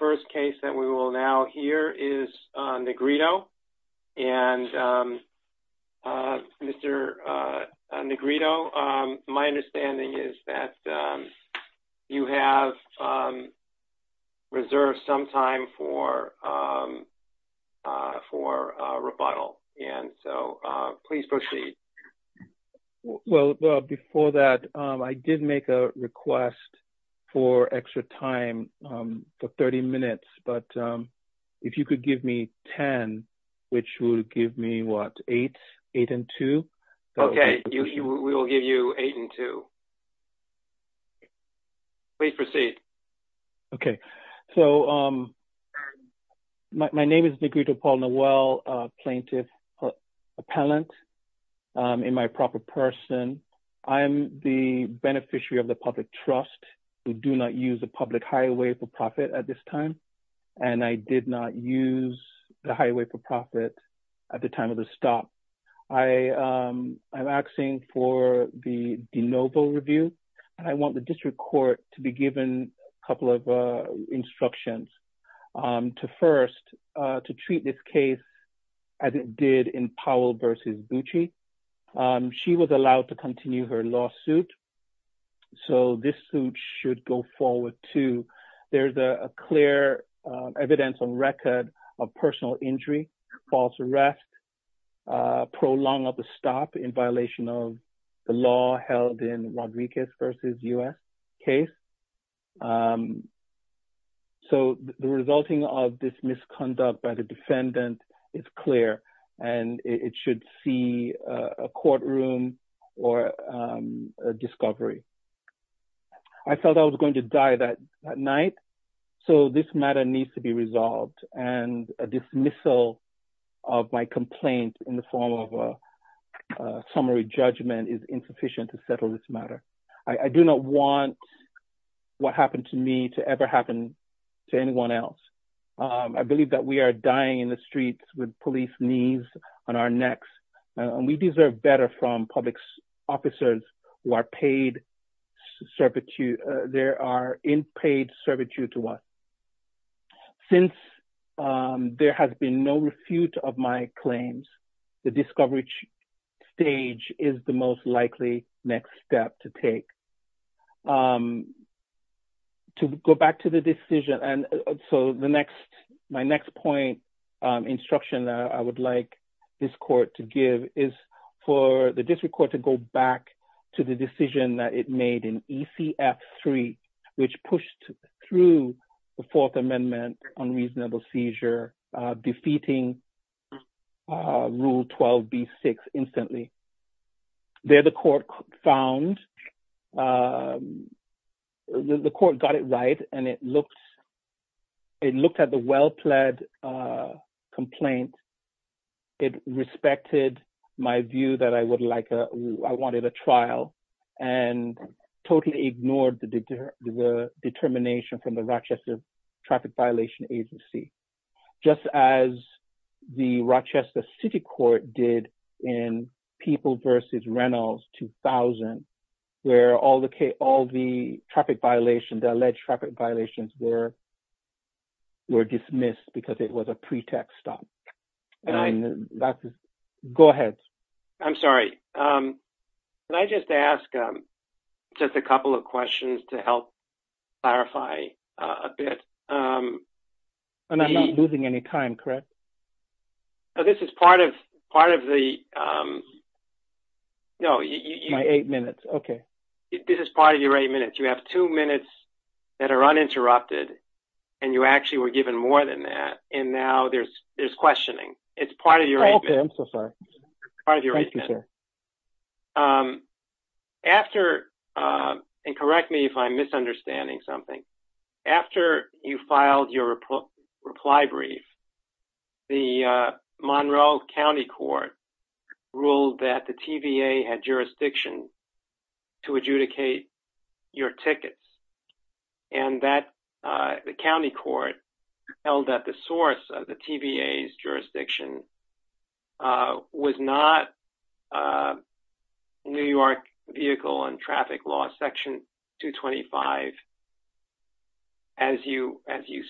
first case that we will now hear is Negrito. And Mr. Negrito, my understanding is that you have reserved some time for rebuttal. And so please proceed. Well, before that, I did make a request for extra time for 30 minutes. But if you could give me 10, which would give me what, 8? 8 and 2? Okay, we will give you 8 and 2. Please proceed. Okay, so my name is Negrito Paul Noel, plaintiff appellant in my proper person. I am the beneficiary of the public trust. We do not use a public highway for profit at this time. And I did not use the highway for profit at the time of the stop. I am asking for the de novo review. And I want the district court to be given a couple of instructions. To first, to treat this case as it did in Powell v. Bucci. She was allowed to continue her lawsuit. So this suit should go forward too. There's a clear evidence on record of personal injury, false arrest, prolong of the stop in violation of the law held in Rodriguez v. U.S. case. So the resulting of this misconduct by the defendant is clear and it should see a courtroom or a discovery. I felt I was going to die that night. So this matter needs to be resolved and a dismissal of my complaint in the form of a summary judgment is insufficient to settle this matter. I do not want what happened to me to ever happen to anyone else. I believe that we are dying in the streets with police knees on our necks. And we deserve better from public officers who are in paid servitude to us. Since there has been no refute of my claims, the discovery stage is the most likely next step to take. To go back to the decision, and so my next point instruction I would like this court to give is for the district court to go back to the decision that it made in ECF3, which pushed through the Fourth Amendment on reasonable seizure, defeating Rule 12b-6 instantly. There the court found, the court got it right and it looked at the well-pledged complaint. It respected my view that I would like, I wanted a trial and totally ignored the determination from the Rochester Traffic Violation Agency. Just as the Rochester City Court did in People v. Reynolds 2000, where all the traffic violations, the alleged traffic violations were dismissed because it was a pretext stop. Go ahead. I'm sorry. Can I just ask just a couple of questions to help clarify a bit? I'm not losing any time, correct? This is part of the… My eight minutes. Okay. This is part of your eight minutes. You have two minutes that are uninterrupted and you actually were given more than that. And now there's questioning. It's part of your eight minutes. I'm so sorry. Thank you, sir. After, and correct me if I'm misunderstanding something, after you filed your reply brief, the Monroe County Court ruled that the TVA had jurisdiction to adjudicate your tickets. And that the county court held that the source of the TVA's jurisdiction was not New York Vehicle and Traffic Law Section 225, as you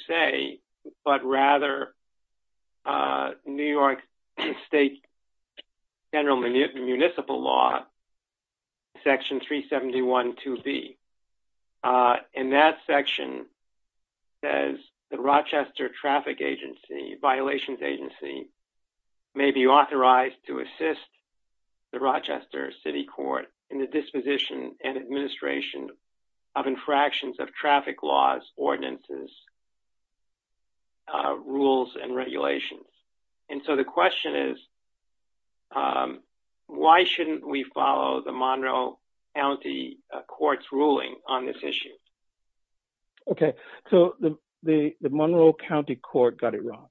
say, but rather New York State General Municipal Law Section 371 2B. And that section says the Rochester Traffic Agency, Violations Agency, may be authorized to assist the Rochester City Court in the disposition and administration of infractions of traffic laws, ordinances, rules, and regulations. And so the question is, why shouldn't we follow the Monroe County Court's ruling on this issue? Okay, so the Monroe County Court got it wrong.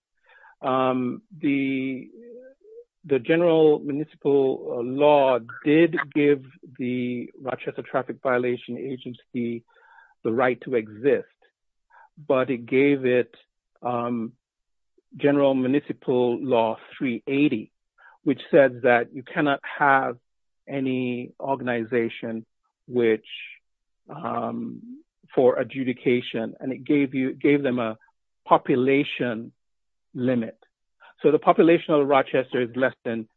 The General Municipal Law did give the Rochester Traffic Violation Agency the right to exist. But it gave it General Municipal Law 380, which says that you cannot have any organization for adjudication. And it gave them a population limit. So the population of Rochester is less than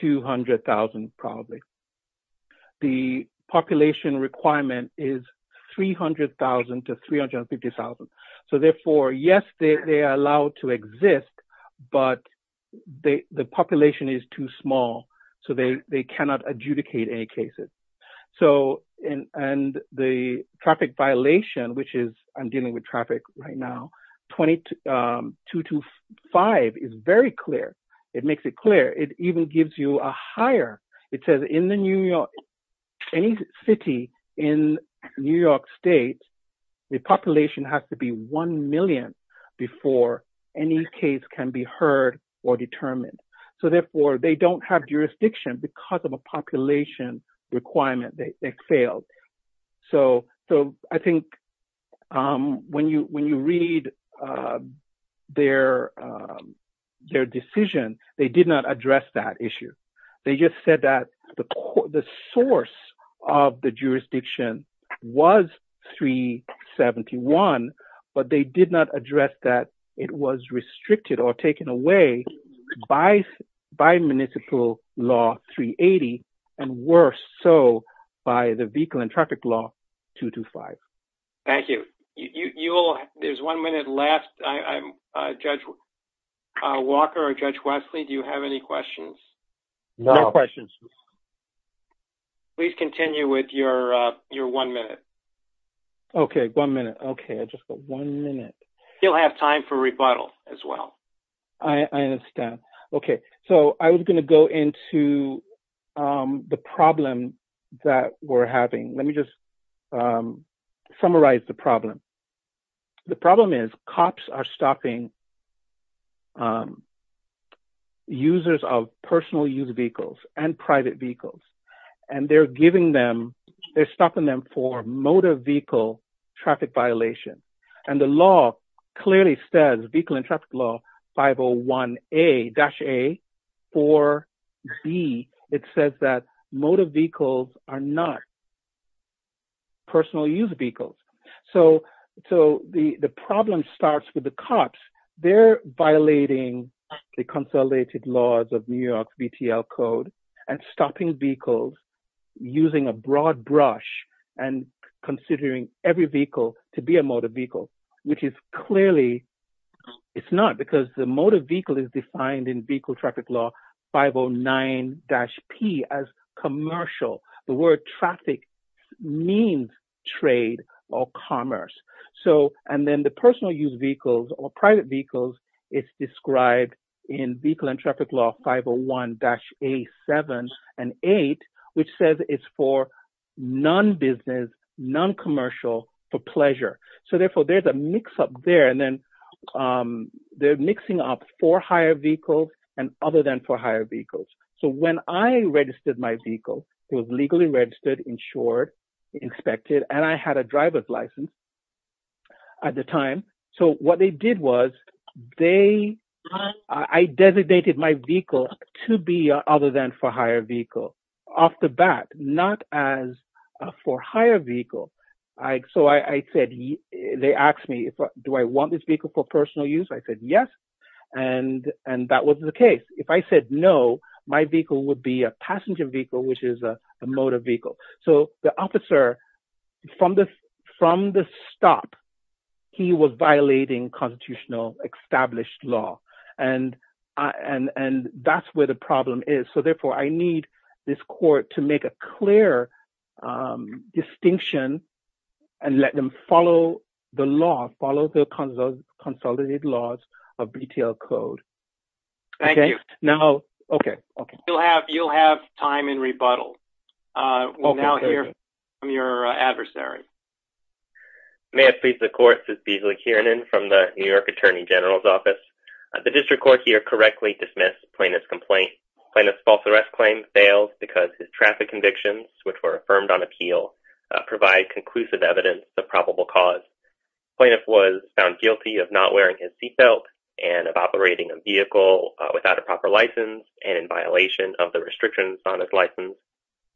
200,000 probably. The population requirement is 300,000 to 350,000. So therefore, yes, they are allowed to exist, but the population is too small, so they cannot adjudicate any cases. And the traffic violation, which is I'm dealing with traffic right now, 2225 is very clear. It makes it clear. It even gives you a higher. It says in any city in New York State, the population has to be 1 million before any case can be heard or determined. So therefore, they don't have jurisdiction because of a population requirement. They failed. So I think when you read their decision, they did not address that issue. They just said that the source of the jurisdiction was 371. But they did not address that it was restricted or taken away by Municipal Law 380, and worse so by the Vehicle and Traffic Law 225. Thank you. There's one minute left. Judge Walker or Judge Wesley, do you have any questions? No questions. Please continue with your one minute. Okay. One minute. Okay. I just got one minute. You'll have time for rebuttal as well. I understand. Okay. So I was going to go into the problem that we're having. Let me just summarize the problem. The problem is cops are stopping users of personal use vehicles and private vehicles, and they're stopping them for motor vehicle traffic violations. And the law clearly says, Vehicle and Traffic Law 501-A. For B, it says that motor vehicles are not personal use vehicles. So the problem starts with the cops. They're violating the consolidated laws of New York's VTL code and stopping vehicles using a broad brush and considering every vehicle to be a motor vehicle. It's not, because the motor vehicle is defined in Vehicle Traffic Law 509-P as commercial. The word traffic means trade or commerce. And then the personal use vehicles or private vehicles is described in Vehicle and Traffic Law 501-A7 and 8, which says it's for non-business, non-commercial, for pleasure. So therefore, there's a mix up there, and then they're mixing up for hire vehicles and other than for hire vehicles. So when I registered my vehicle, it was legally registered, insured, inspected, and I had a driver's license at the time. So what they did was I designated my vehicle to be other than for hire vehicle off the bat, not as for hire vehicle. So they asked me, do I want this vehicle for personal use? I said yes, and that was the case. If I said no, my vehicle would be a passenger vehicle, which is a motor vehicle. So the officer, from the stop, he was violating constitutional established law, and that's where the problem is. So therefore, I need this court to make a clear distinction and let them follow the law, follow the consolidated laws of BTL code. Thank you. Okay. You'll have time in rebuttal. We'll now hear from your adversary. May it please the court, this is Beasley Kiernan from the New York Attorney General's Office. The district court here correctly dismissed plaintiff's complaint. Plaintiff's false arrest claim fails because his traffic convictions, which were affirmed on appeal, provide conclusive evidence of probable cause. Plaintiff was found guilty of not wearing his seatbelt and of operating a vehicle without a proper license and in violation of the restrictions on his license.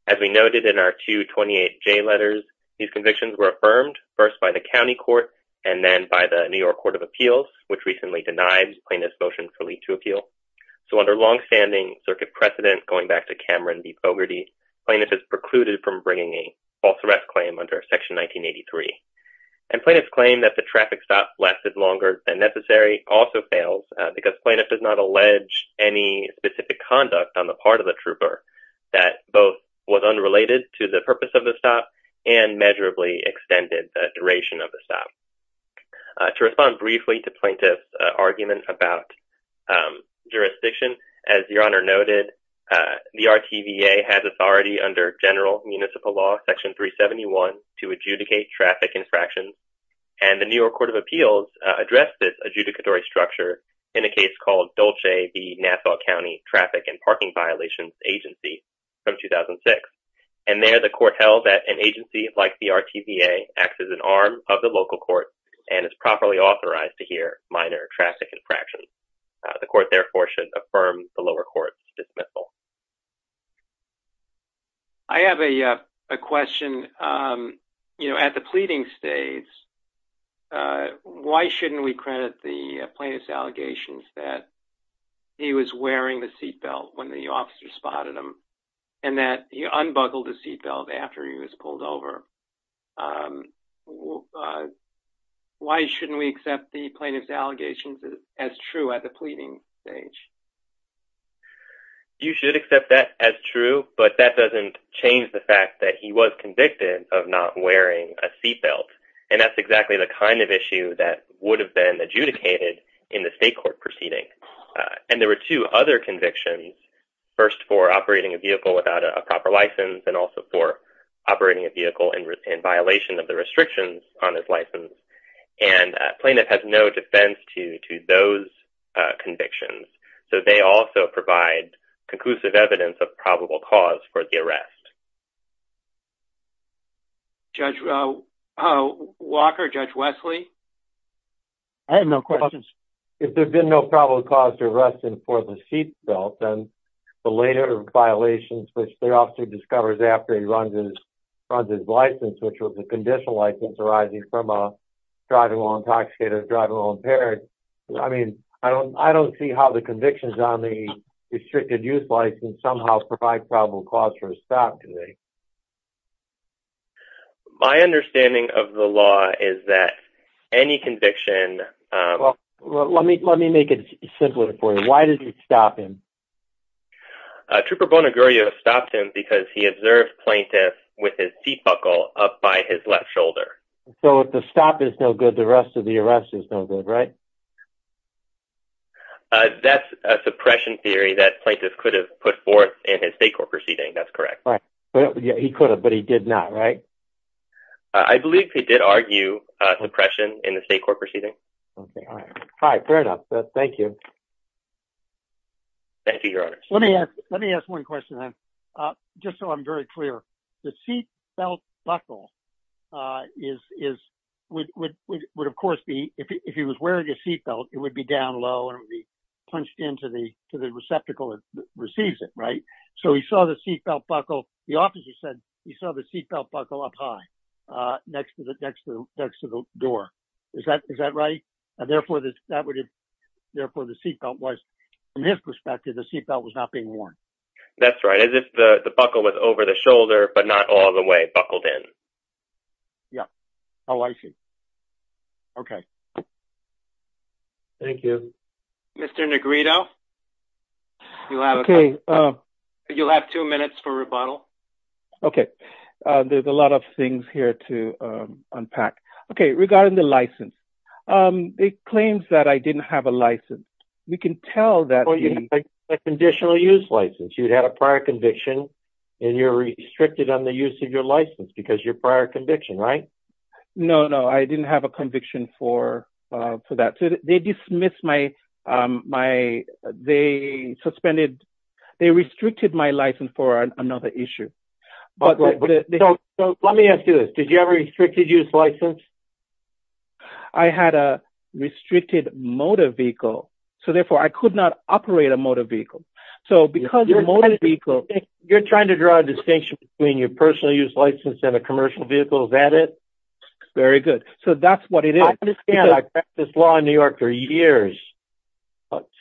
As we noted in our 228J letters, these convictions were affirmed first by the county court and then by the New York Court of Appeals, which recently denied plaintiff's motion to appeal. So under longstanding circuit precedent, going back to Cameron v. Bogarty, plaintiff is precluded from bringing a false arrest claim under Section 1983. And plaintiff's claim that the traffic stop lasted longer than necessary also fails because plaintiff does not allege any specific conduct on the part of the trooper that both was unrelated to the purpose of the stop and measurably extended the duration of the stop. To respond briefly to plaintiff's argument about jurisdiction, as Your Honor noted, the RTVA has authority under general municipal law Section 371 to adjudicate traffic infractions. And the New York Court of Appeals addressed this adjudicatory structure in a case called Dolce v. Nassau County Traffic and Parking Violations Agency from 2006. And there the court held that an agency like the RTVA acts as an arm of the local court and is properly authorized to hear minor traffic infractions. The court therefore should affirm the lower court's dismissal. I have a question. You know, at the pleading stage, why shouldn't we credit the plaintiff's allegations that he was wearing the seat belt when the officer spotted him and that he unbuckled the seat belt after he was pulled over? Why shouldn't we accept the plaintiff's allegations as true at the pleading stage? You should accept that as true, but that doesn't change the fact that he was convicted of not wearing a seat belt. And that's exactly the kind of issue that would have been adjudicated in the state court proceeding. And there were two other convictions, first for operating a vehicle without a proper license and also for operating a vehicle in violation of the restrictions on his license. And plaintiff has no defense to those convictions. So they also provide conclusive evidence of probable cause for the arrest. Judge Walker, Judge Wesley? I have no questions. If there's been no probable cause to arrest him for the seat belt, then the later violations which the officer discovers after he runs his license, which was a conditional license arising from a driving while intoxicated or driving while impaired. I mean, I don't see how the convictions on the restricted youth license somehow provide probable cause for a stop today. My understanding of the law is that any conviction... Let me make it simpler for you. Why did you stop him? Trooper Bonagurio stopped him because he observed plaintiff with his seat buckle up by his left shoulder. So if the stop is no good, the rest of the arrest is no good, right? That's a suppression theory that plaintiff could have put forth in his state court proceeding. That's correct. He could have, but he did not, right? I believe he did argue suppression in the state court proceeding. All right. Fair enough. Thank you. Thank you, Your Honor. Let me ask one question then, just so I'm very clear. The seat belt buckle would, of course, be... If he was wearing a seat belt, it would be down low and it would be punched into the receptacle that receives it, right? So he saw the seat belt buckle... The officer said he saw the seat belt buckle up high next to the door. Is that right? Therefore, the seat belt was, from his perspective, the seat belt was not being worn. That's right. As if the buckle was over the shoulder, but not all the way buckled in. Yeah. Oh, I see. Okay. Thank you. Mr. Negrito, you'll have two minutes for rebuttal. Okay. Regarding the license, it claims that I didn't have a license. We can tell that... Well, you didn't have a conditional use license. You'd had a prior conviction and you're restricted on the use of your license because of your prior conviction, right? No, no. I didn't have a conviction for that. They dismissed my... They suspended... They restricted my license for another issue. Let me ask you this. Did you have a restricted use license? I had a restricted motor vehicle, so therefore I could not operate a motor vehicle. So because your motor vehicle... You're trying to draw a distinction between your personal use license and a commercial vehicle. Is that it? Very good. So that's what it is.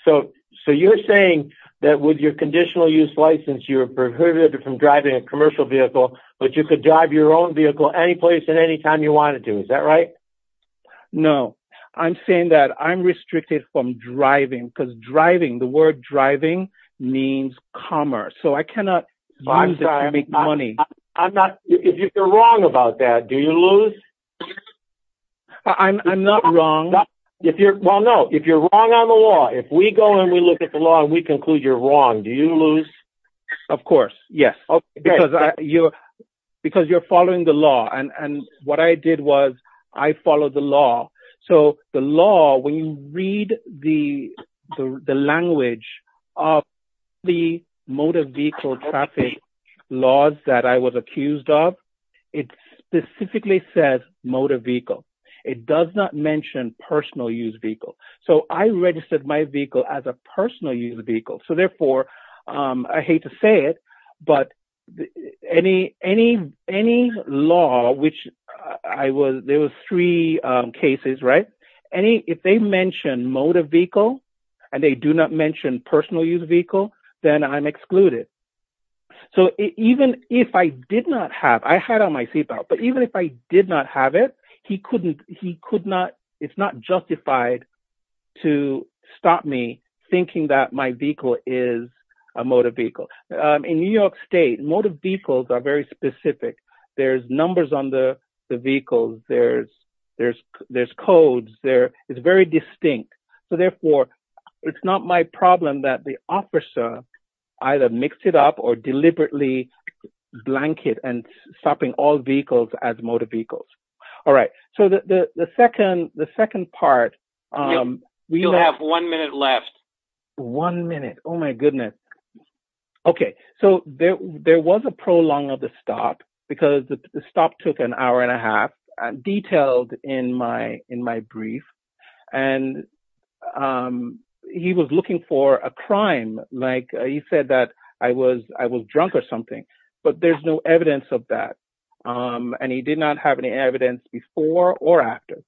So you're saying that with your conditional use license, you're prohibited from driving a commercial vehicle, but you could drive your own vehicle any place at any time you wanted to. Is that right? No. I'm saying that I'm restricted from driving because driving, the word driving means commerce. So I cannot use it to make money. If you're wrong about that, do you lose? I'm not wrong. Well, no. If you're wrong on the law, if we go and we look at the law and we conclude you're wrong, do you lose? Of course. Yes. Because you're following the law. And what I did was I followed the law. So the law, when you read the language of the motor vehicle traffic laws that I was accused of, it specifically says motor vehicle. It does not mention personal use vehicle. So I registered my vehicle as a personal use vehicle. So therefore, I hate to say it, but any law, which there were three cases, right? If they mention motor vehicle and they do not mention personal use vehicle, then I'm excluded. So even if I did not have, I had on my seatbelt, but even if I did not have it, it's not justified to stop me thinking that my vehicle is a motor vehicle. In New York State, motor vehicles are very specific. There's numbers on the vehicles. There's codes. It's very distinct. So therefore, it's not my problem that the officer either mixed it up or deliberately blanket and stopping all vehicles as motor vehicles. All right. So the second part. You'll have one minute left. One minute. Oh, my goodness. Okay. So there was a prolong of the stop because the stop took an hour and a half, detailed in my brief. And he was looking for a crime. He said that I was drunk or something, but there's no evidence of that. And he did not have any evidence before or after.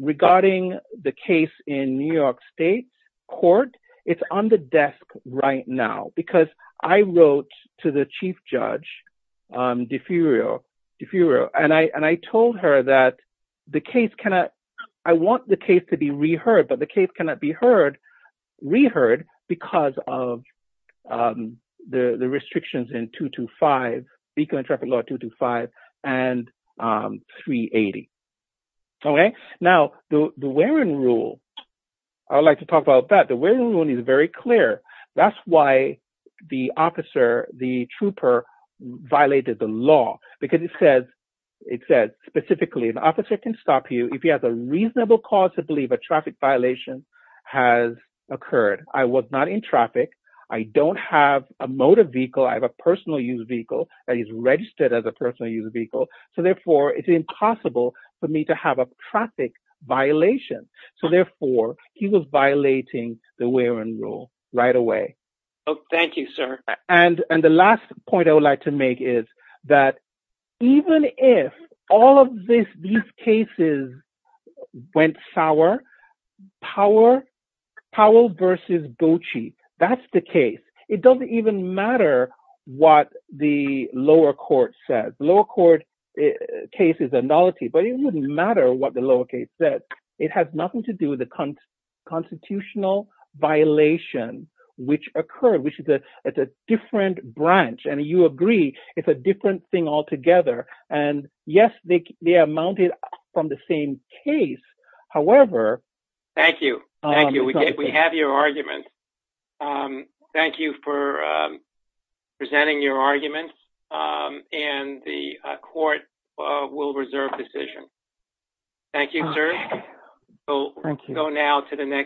Regarding the case in New York State court, it's on the desk right now because I wrote to the chief judge, Deferio. And I told her that the case cannot, I want the case to be reheard, but the case cannot be heard, reheard because of the restrictions in 225, vehicle and traffic law 225 and 380. Okay. Now, the wearing rule. I'd like to talk about that. The wearing rule is very clear. That's why the officer, the trooper violated the law, because it says specifically an officer can stop you if he has a reasonable cause to believe a traffic violation has occurred. I was not in traffic. I don't have a motor vehicle. I have a personal use vehicle that is registered as a personal use vehicle. So therefore, it's impossible for me to have a traffic violation. So therefore, he was violating the wearing rule right away. Oh, thank you, sir. And the last point I would like to make is that even if all of these cases went sour, Powell versus Bocci, that's the case. It doesn't even matter what the lower court says. Lower court cases are nullity, but it wouldn't matter what the lower case says. It has nothing to do with the constitutional violation which occurred, which is a different branch. And you agree it's a different thing altogether. And yes, they are mounted from the same case. However... Thank you. Thank you. We have your argument. Thank you for presenting your argument. And the court will reserve decision. Thank you, sir. Thank you.